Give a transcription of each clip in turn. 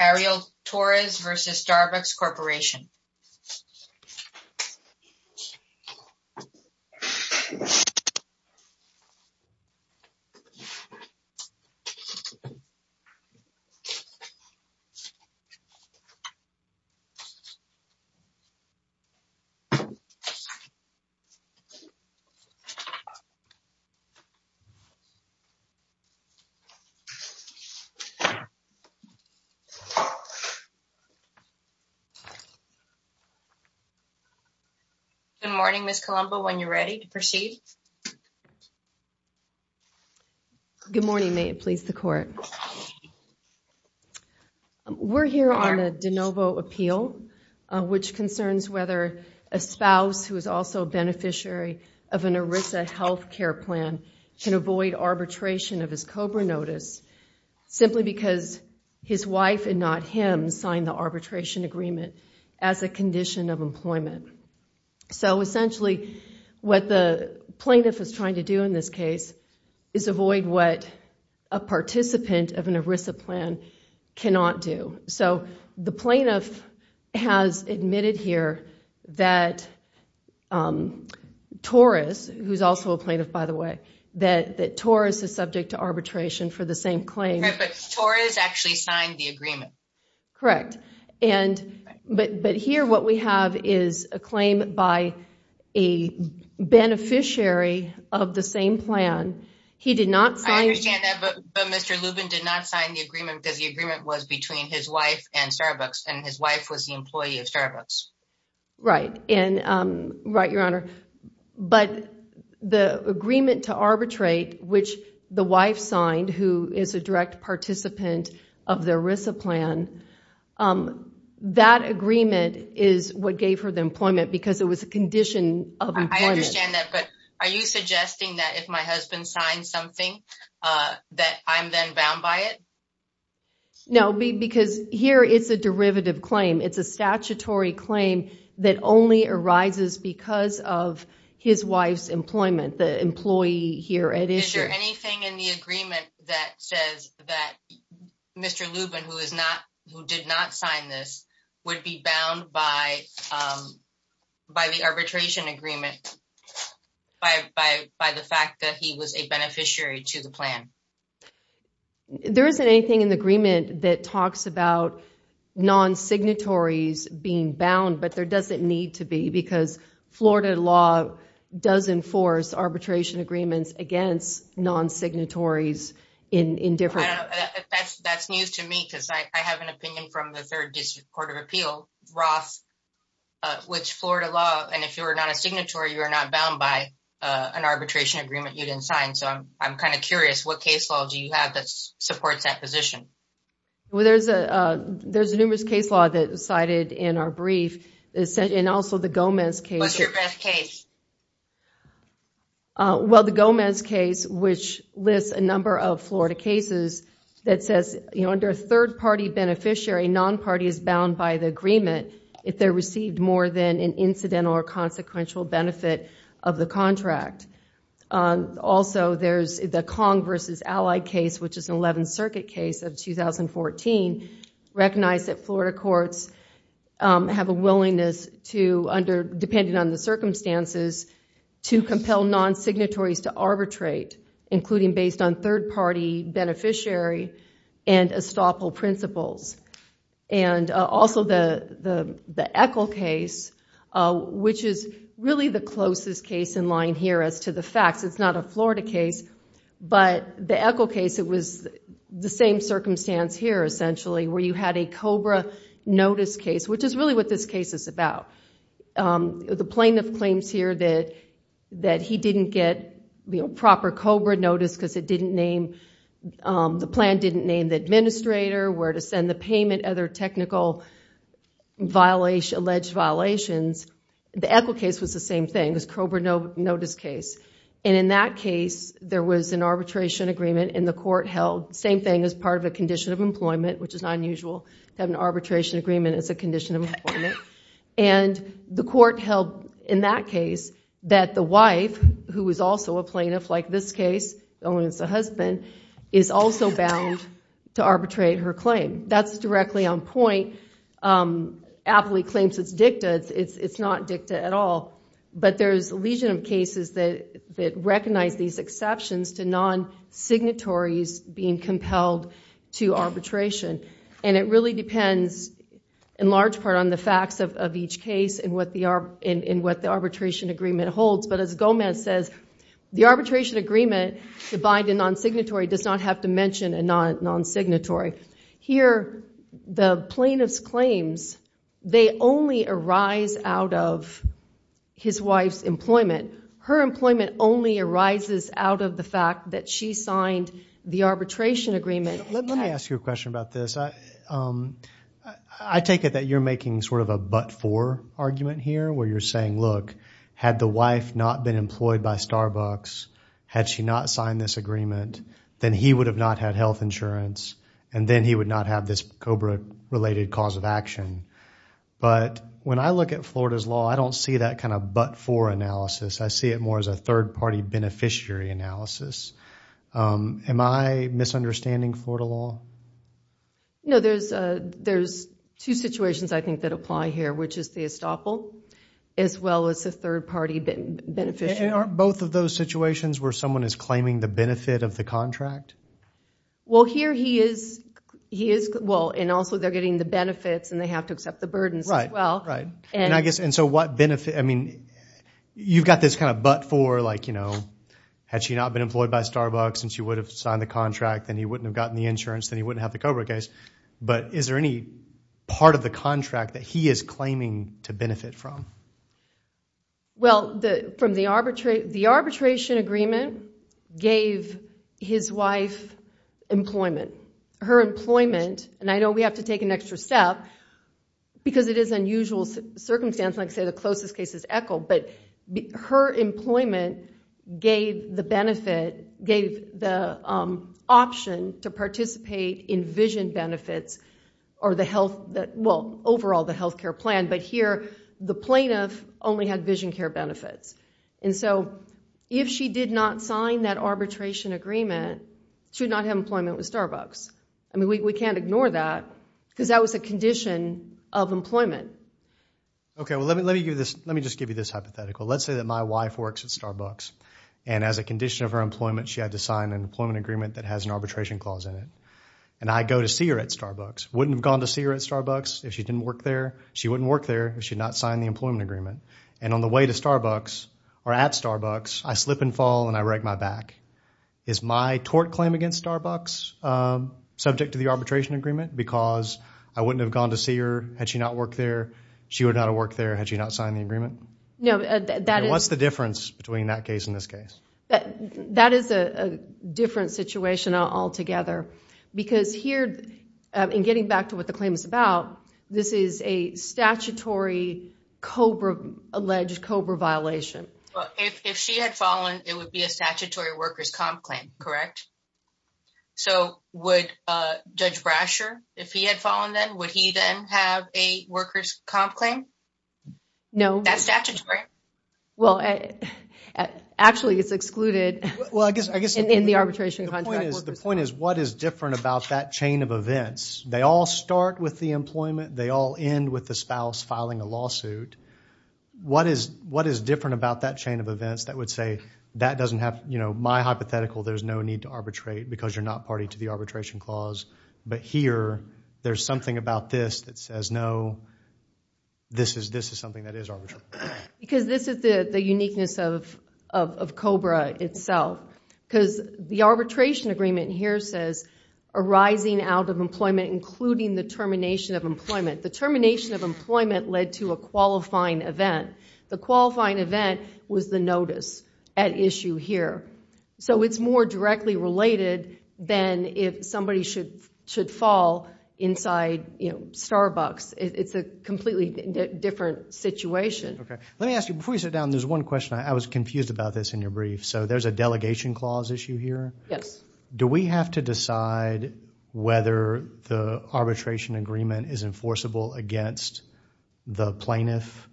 Ariel Torres v. Starbucks Corporation Ariel Torres v. Starbucks Corporation Good morning, Ms. Colombo, when you're ready to proceed. Good morning, may it please the Court. We're here on a de novo appeal, which concerns whether a spouse who is also a beneficiary of an ERISA health care plan can avoid arbitration of his COBRA notice simply because his wife and not him signed the arbitration agreement as a condition of employment. So essentially what the plaintiff is trying to do in this case is avoid what a participant of an ERISA plan cannot do. So the plaintiff has admitted here that Torres, who's also a plaintiff by the way, that Torres is subject to arbitration for the same claim. But Torres actually signed the agreement. Correct. But here what we have is a claim by a beneficiary of the same plan. I understand that, but Mr. Lubin did not sign the agreement because the agreement was between his wife and Starbucks, and his wife was the employee of Starbucks. Right, Your Honor. But the agreement to arbitrate, which the wife signed, who is a direct participant of the ERISA plan, that agreement is what gave her the employment because it was a condition of employment. I understand that, but are you suggesting that if my husband signs something that I'm then bound by it? No, because here it's a derivative claim. It's a statutory claim that only arises because of his wife's employment, the employee here at ERISA. Is there anything in the agreement that says that Mr. Lubin, who did not sign this, would be bound by the arbitration agreement by the fact that he was a beneficiary to the plan? There isn't anything in the agreement that talks about non-signatories being bound, but there doesn't need to be because Florida law does enforce arbitration agreements against non-signatories indifferently. That's news to me because I have an opinion from the 3rd District Court of Appeal, Roth, which Florida law, and if you're not a signatory, you are not bound by an arbitration agreement you didn't sign. So I'm kind of curious, what case law do you have that supports that position? Well, there's numerous case law that was cited in our brief, and also the Gomez case. What's your best case? Well, the Gomez case, which lists a number of Florida cases that says under a third-party beneficiary, a non-party is bound by the agreement if they received more than an incidental or consequential benefit of the contract. Also, there's the Kong v. Allied case, which is an 11th Circuit case of 2014, recognized that Florida courts have a willingness to, depending on the circumstances, to compel non-signatories to arbitrate, including based on third-party beneficiary and estoppel principles. And also the Echol case, which is really the closest case in line here as to the facts. It's not a Florida case, but the Echol case, it was the same circumstance here, essentially, where you had a COBRA notice case, which is really what this case is about. The plaintiff claims here that he didn't get proper COBRA notice because the plan didn't name the administrator, where to send the payment, other technical alleged violations. The Echol case was the same thing. It was a COBRA notice case. And in that case, there was an arbitration agreement, and the court held the same thing as part of a condition of employment, which is not unusual to have an arbitration agreement as a condition of employment. And the court held, in that case, that the wife, who was also a plaintiff like this case, the woman's husband, is also bound to arbitrate her claim. That's directly on point. Appley claims it's dicta. It's not dicta at all. But there's a legion of cases that recognize these exceptions to non-signatories being compelled to arbitration. And it really depends, in large part, on the facts of each case and what the arbitration agreement holds. But as Gomez says, the arbitration agreement to bind a non-signatory does not have to mention a non-signatory. Here, the plaintiff's claims, they only arise out of his wife's employment. Her employment only arises out of the fact that she signed the arbitration agreement. Let me ask you a question about this. I take it that you're making sort of a but-for argument here, where you're saying, look, had the wife not been employed by Starbucks, had she not signed this agreement, then he would have not had health insurance, and then he would not have this COBRA-related cause of action. But when I look at Florida's law, I don't see that kind of but-for analysis. I see it more as a third-party beneficiary analysis. Am I misunderstanding Florida law? No, there's two situations, I think, that apply here, which is the estoppel as well as the third-party beneficiary. And aren't both of those situations where someone is claiming the benefit of the contract? Well, here he is. Well, and also they're getting the benefits, and they have to accept the burdens as well. Right, right. I mean, you've got this kind of but-for, like, you know, had she not been employed by Starbucks and she would have signed the contract, then he wouldn't have gotten the insurance, then he wouldn't have the COBRA case. But is there any part of the contract that he is claiming to benefit from? Well, from the arbitration agreement gave his wife employment. And I know we have to take an extra step because it is unusual circumstance. Like I say, the closest case is ECHL. But her employment gave the benefit, gave the option to participate in vision benefits or the health – well, overall the health care plan. But here the plaintiff only had vision care benefits. And so if she did not sign that arbitration agreement, she would not have employment with Starbucks. I mean, we can't ignore that because that was a condition of employment. Okay. Well, let me give you this – let me just give you this hypothetical. Let's say that my wife works at Starbucks. And as a condition of her employment, she had to sign an employment agreement that has an arbitration clause in it. And I go to see her at Starbucks. Wouldn't have gone to see her at Starbucks if she didn't work there. She wouldn't work there if she had not signed the employment agreement. And on the way to Starbucks or at Starbucks, I slip and fall and I wreck my back. Is my tort claim against Starbucks subject to the arbitration agreement because I wouldn't have gone to see her had she not worked there? She would not have worked there had she not signed the agreement? No, that is – What's the difference between that case and this case? That is a different situation altogether. Because here, in getting back to what the claim is about, this is a statutory COBRA – alleged COBRA violation. If she had fallen, it would be a statutory workers' comp claim, correct? So, would Judge Brasher, if he had fallen then, would he then have a workers' comp claim? No. That's statutory? Well, actually, it's excluded in the arbitration contract. The point is, what is different about that chain of events? They all start with the employment. They all end with the spouse filing a lawsuit. What is different about that chain of events that would say, that doesn't have – you know, my hypothetical, there's no need to arbitrate because you're not party to the arbitration clause. But here, there's something about this that says, no, this is something that is arbitrary. Because this is the uniqueness of COBRA itself. Because the arbitration agreement here says, arising out of employment, including the termination of employment. The termination of employment led to a qualifying event. The qualifying event was the notice at issue here. So, it's more directly related than if somebody should fall inside, you know, Starbucks. It's a completely different situation. Okay. Let me ask you, before you sit down, there's one question. I was confused about this in your brief. So, there's a delegation clause issue here? Yes. Do we have to decide whether the arbitration agreement is enforceable against the plaintiff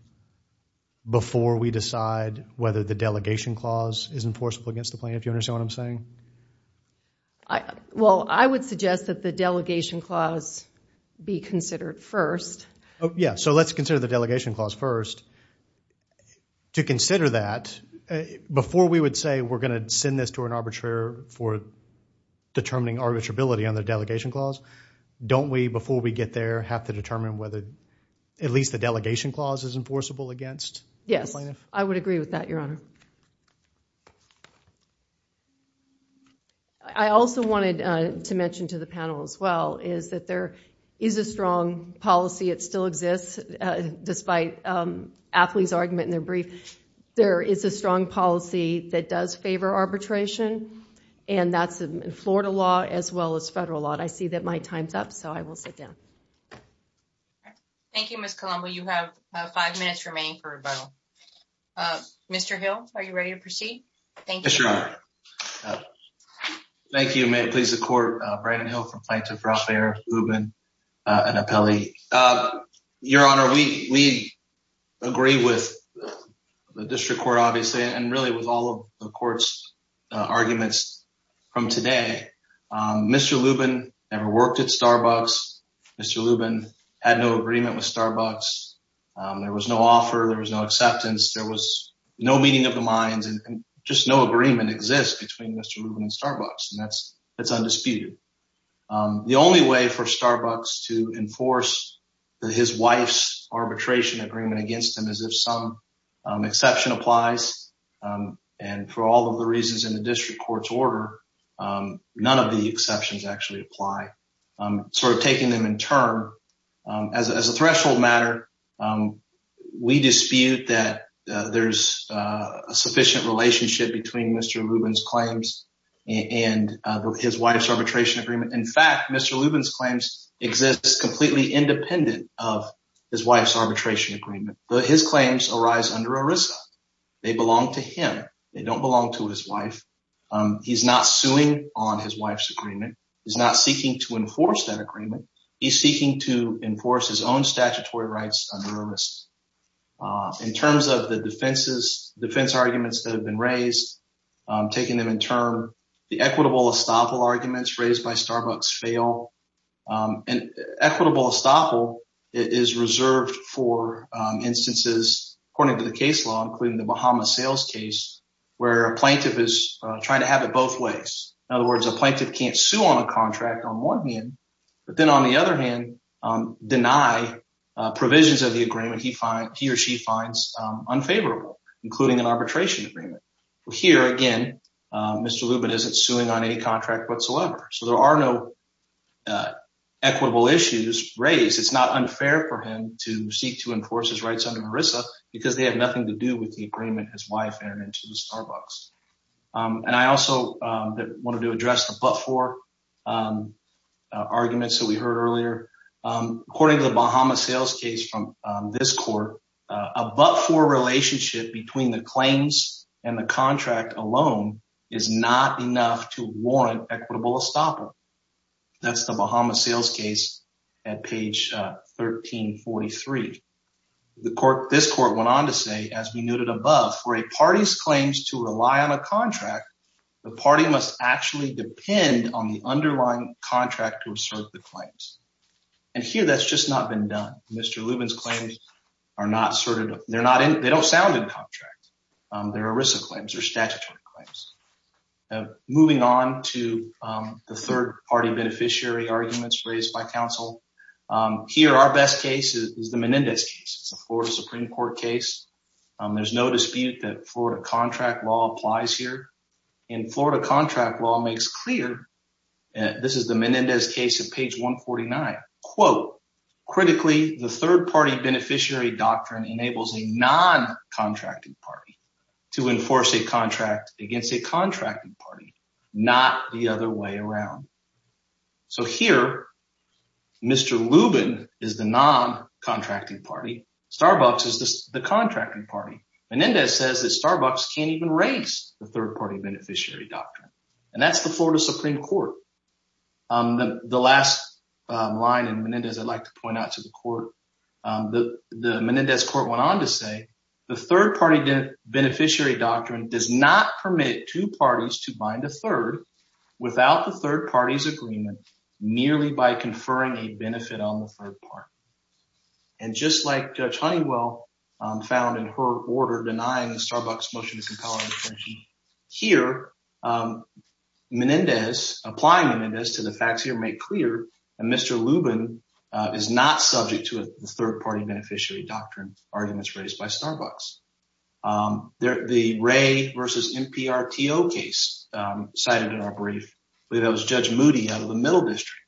before we decide whether the delegation clause is enforceable against the plaintiff? Do you understand what I'm saying? Well, I would suggest that the delegation clause be considered first. Yeah. So, let's consider the delegation clause first. To consider that, before we would say we're going to send this to an arbitrator for determining arbitrability on the delegation clause, don't we, before we get there, have to determine whether at least the delegation clause is enforceable against the plaintiff? Yes. I would agree with that, Your Honor. I also wanted to mention to the panel, as well, is that there is a strong policy. It still exists, despite Atlee's argument in their brief. There is a strong policy that does favor arbitration, and that's in Florida law as well as federal law. And I see that my time's up, so I will sit down. Thank you, Ms. Colombo. You have five minutes remaining for rebuttal. Mr. Hill, are you ready to proceed? Yes, Your Honor. Thank you. May it please the Court. Brandon Hill from Plaintiff, Ralph Ayer, Lubin, and Apelli. Your Honor, we agree with the district court, obviously, and really with all of the court's arguments from today. Mr. Lubin never worked at Starbucks. Mr. Lubin had no agreement with Starbucks. There was no offer. There was no acceptance. There was no meeting of the minds, and just no agreement exists between Mr. Lubin and Starbucks, and that's undisputed. The only way for Starbucks to enforce his wife's arbitration agreement against him is if some exception applies, and for all of the reasons in the district court's order, none of the exceptions actually apply. Sort of taking them in turn, as a threshold matter, we dispute that there's a sufficient relationship between Mr. Lubin's claims and his wife's arbitration agreement. In fact, Mr. Lubin's claims exist completely independent of his wife's arbitration agreement. His claims arise under ERISA. They belong to him. They don't belong to his wife. He's not suing on his wife's agreement. He's not seeking to enforce that agreement. He's seeking to enforce his own statutory rights under ERISA. In terms of the defense arguments that have been raised, taking them in turn, the equitable estoppel arguments raised by Starbucks fail, and equitable estoppel is reserved for instances, according to the case law, including the Bahama sales case, where a plaintiff is trying to have it both ways. In other words, a plaintiff can't sue on a contract on one hand, but then on the other hand, deny provisions of the agreement he or she finds unfavorable, including an arbitration agreement. Here, again, Mr. Lubin isn't suing on any contract whatsoever, so there are no equitable issues raised. It's not unfair for him to seek to enforce his rights under ERISA because they have nothing to do with the agreement his wife entered into with Starbucks. I also wanted to address the but-for arguments that we heard earlier. According to the Bahama sales case from this court, a but-for relationship between the claims and the contract alone is not enough to warrant equitable estoppel. That's the Bahama sales case at page 1343. This court went on to say, as we noted above, for a party's claims to rely on a contract, the party must actually depend on the underlying contract to assert the claims. And here, that's just not been done. Mr. Lubin's claims are not asserted. They don't sound in contract. They're ERISA claims. They're statutory claims. Moving on to the third-party beneficiary arguments raised by counsel. Here, our best case is the Menendez case. It's a Florida Supreme Court case. There's no dispute that Florida contract law applies here. And Florida contract law makes clear, and this is the Menendez case at page 149, quote, Critically, the third-party beneficiary doctrine enables a non-contracting party to enforce a contract against a contracting party, not the other way around. So here, Mr. Lubin is the non-contracting party. Starbucks is the contracting party. Menendez says that Starbucks can't even raise the third-party beneficiary doctrine, and that's the Florida Supreme Court. The last line in Menendez I'd like to point out to the court, the Menendez court went on to say, The third-party beneficiary doctrine does not permit two parties to bind a third without the third party's agreement merely by conferring a benefit on the third party. And just like Judge Honeywell found in her order denying the Starbucks motion to compel an extension, Here, Menendez, applying Menendez to the facts here make clear that Mr. Lubin is not subject to a third-party beneficiary doctrine arguments raised by Starbucks. The Ray v. NPRTO case cited in our brief, that was Judge Moody out of the Middle District.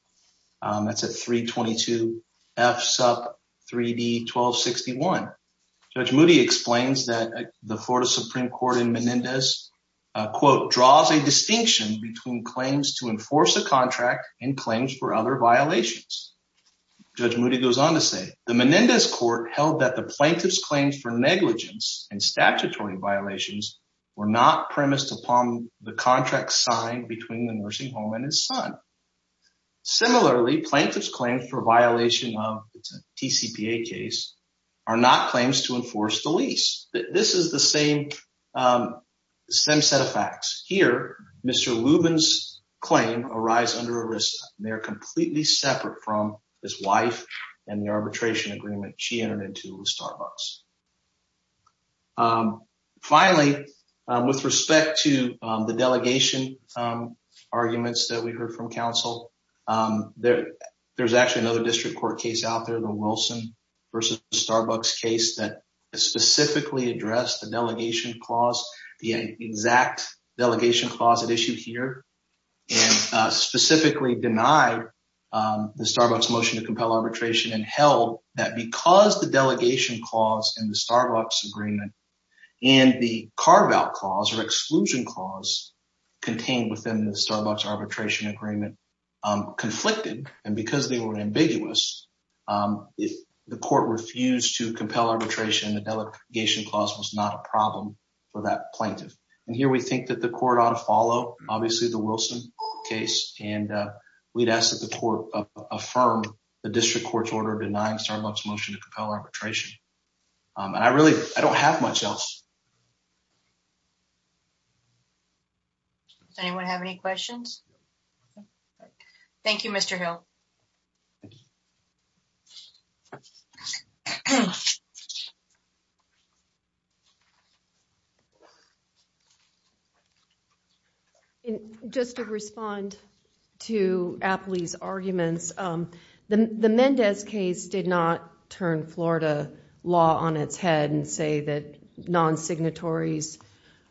That's at 322 F Sup 3D 1261. Judge Moody explains that the Florida Supreme Court in Menendez, quote, Draws a distinction between claims to enforce a contract and claims for other violations. Judge Moody goes on to say, The Menendez court held that the plaintiff's claims for negligence and statutory violations were not premised upon the contract signed between the nursing home and his son. Similarly, plaintiff's claims for violation of the TCPA case are not claims to enforce the lease. This is the same set of facts. Here, Mr. Lubin's claim arise under ERISA. They are completely separate from his wife and the arbitration agreement she entered into with Starbucks. Finally, with respect to the delegation arguments that we heard from counsel, There's actually another district court case out there, the Wilson v. Starbucks case that specifically addressed the delegation clause, the exact delegation clause at issue here and specifically denied the Starbucks motion to compel arbitration and held that because the delegation clause in the Starbucks agreement and the carve-out clause or exclusion clause contained within the Starbucks arbitration agreement, conflicted and because they were ambiguous, the court refused to compel arbitration. The delegation clause was not a problem for that plaintiff. And here we think that the court ought to follow, obviously, the Wilson case. And we'd ask that the court affirm the district court's order denying Starbucks motion to compel arbitration. And I really, I don't have much else. Does anyone have any questions? Thank you, Mr. Hill. Just to respond to Apley's arguments, the Mendez case did not turn Florida law on its head and say that non-signatories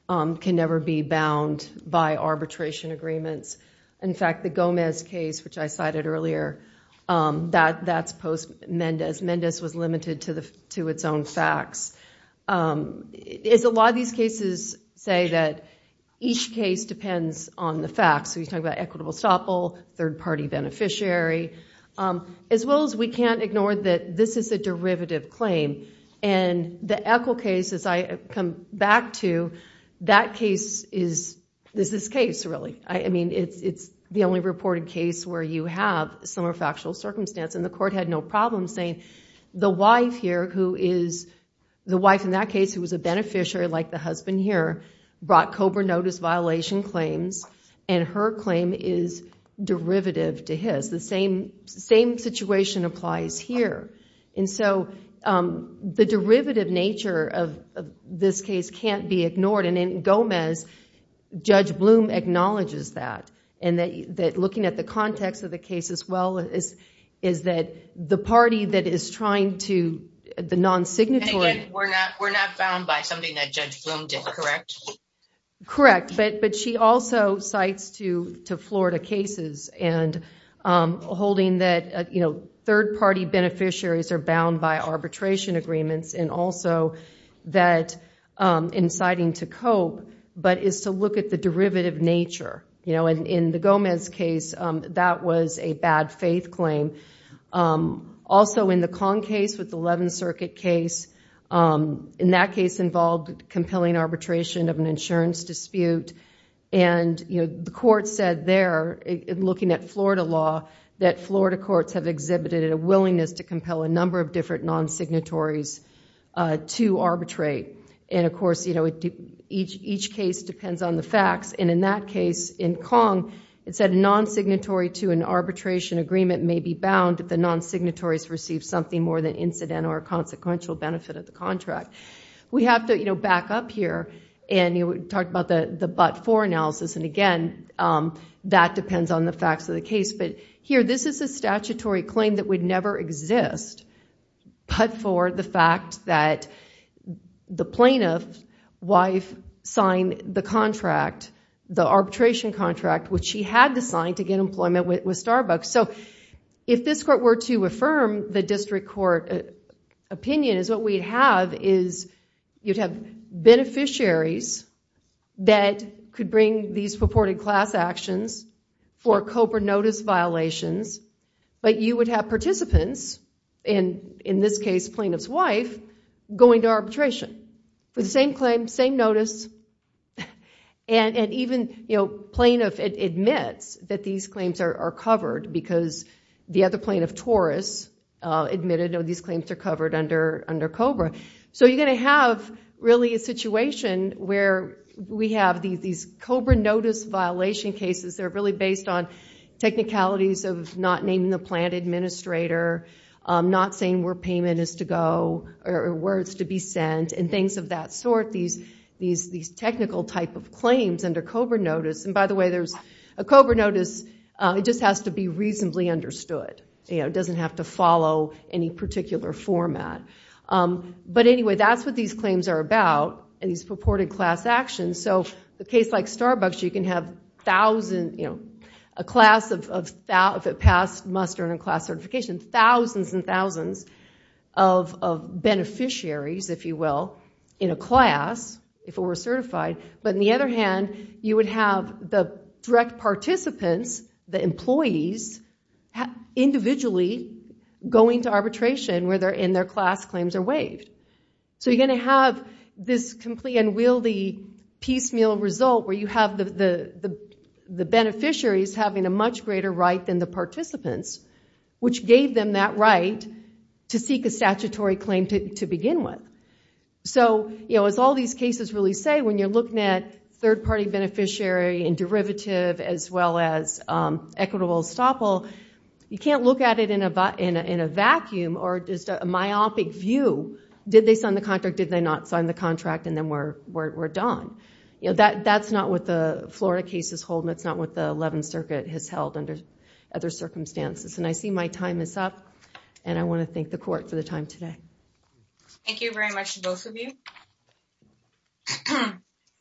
can never be bound by arbitration agreements. In fact, the Gomez case, which I cited earlier, that's post-Mendez. Mendez was limited to its own facts. A lot of these cases say that each case depends on the facts. So you talk about equitable estoppel, third-party beneficiary, as well as we can't ignore that this is a derivative claim. And the Eccle case, as I come back to, that case is this case, really. I mean, it's the only reported case where you have some factual circumstance. And the court had no problem saying, the wife in that case who was a beneficiary, like the husband here, brought COBRA notice violation claims. And her claim is derivative to his. The same situation applies here. And so the derivative nature of this case can't be ignored. And in Gomez, Judge Blum acknowledges that. And that looking at the context of the case as well is that the party that is trying to, the non-signatory. And again, we're not bound by something that Judge Blum did, correct? Correct. But she also cites to Florida cases and holding that third-party beneficiaries are bound by arbitration agreements. And also that inciting to cope, but is to look at the derivative nature. In the Gomez case, that was a bad faith claim. Also in the Kong case with the 11th Circuit case, in that case involved compelling arbitration of an insurance dispute. And the court said there, looking at Florida law, that Florida courts have exhibited a willingness to compel a number of different non-signatories to arbitrate. And of course, each case depends on the facts. And in that case, in Kong, it said a non-signatory to an arbitration agreement may be bound if the non-signatories receive something more than incident or consequential benefit of the contract. We have to back up here. And we talked about the but-for analysis. And again, that depends on the facts of the case. But here, this is a statutory claim that would never exist but for the fact that the plaintiff's wife signed the arbitration contract, which she had to sign to get employment with Starbucks. So if this court were to affirm the district court opinion, what we'd have is you'd have beneficiaries that could bring these purported class actions for COPA notice violations. But you would have participants, and in this case, plaintiff's wife, going to arbitration for the same claim, same notice. And even plaintiff admits that these claims are covered because the other plaintiff, Taurus, admitted these claims are covered under COBRA. So you're going to have, really, a situation where we have these COBRA notice violation cases that are really based on technicalities of not naming the plant administrator, not saying where payment is to go or where it's to be sent, and things of that sort. These technical type of claims under COBRA notice. And by the way, there's a COBRA notice. It just has to be reasonably understood. It doesn't have to follow any particular format. But anyway, that's what these claims are about, these purported class actions. So the case like Starbucks, you can have a class of, if it passed muster and a class certification, thousands and thousands of beneficiaries, if you will, in a class if it were certified. But on the other hand, you would have the direct participants, the employees, individually going to arbitration where their class claims are waived. So you're going to have this completely unwieldy, piecemeal result where you have the beneficiaries having a much greater right than the participants, which gave them that right to seek a statutory claim to begin with. As all these cases really say, when you're looking at third-party beneficiary and derivative as well as equitable estoppel, you can't look at it in a vacuum or just a myopic view. Did they sign the contract? Did they not sign the contract? And then we're done. That's not what the Florida case is holding. It's not what the 11th Circuit has held under other circumstances. And I see my time is up. And I want to thank the court for the time today. Thank you very much to both of you.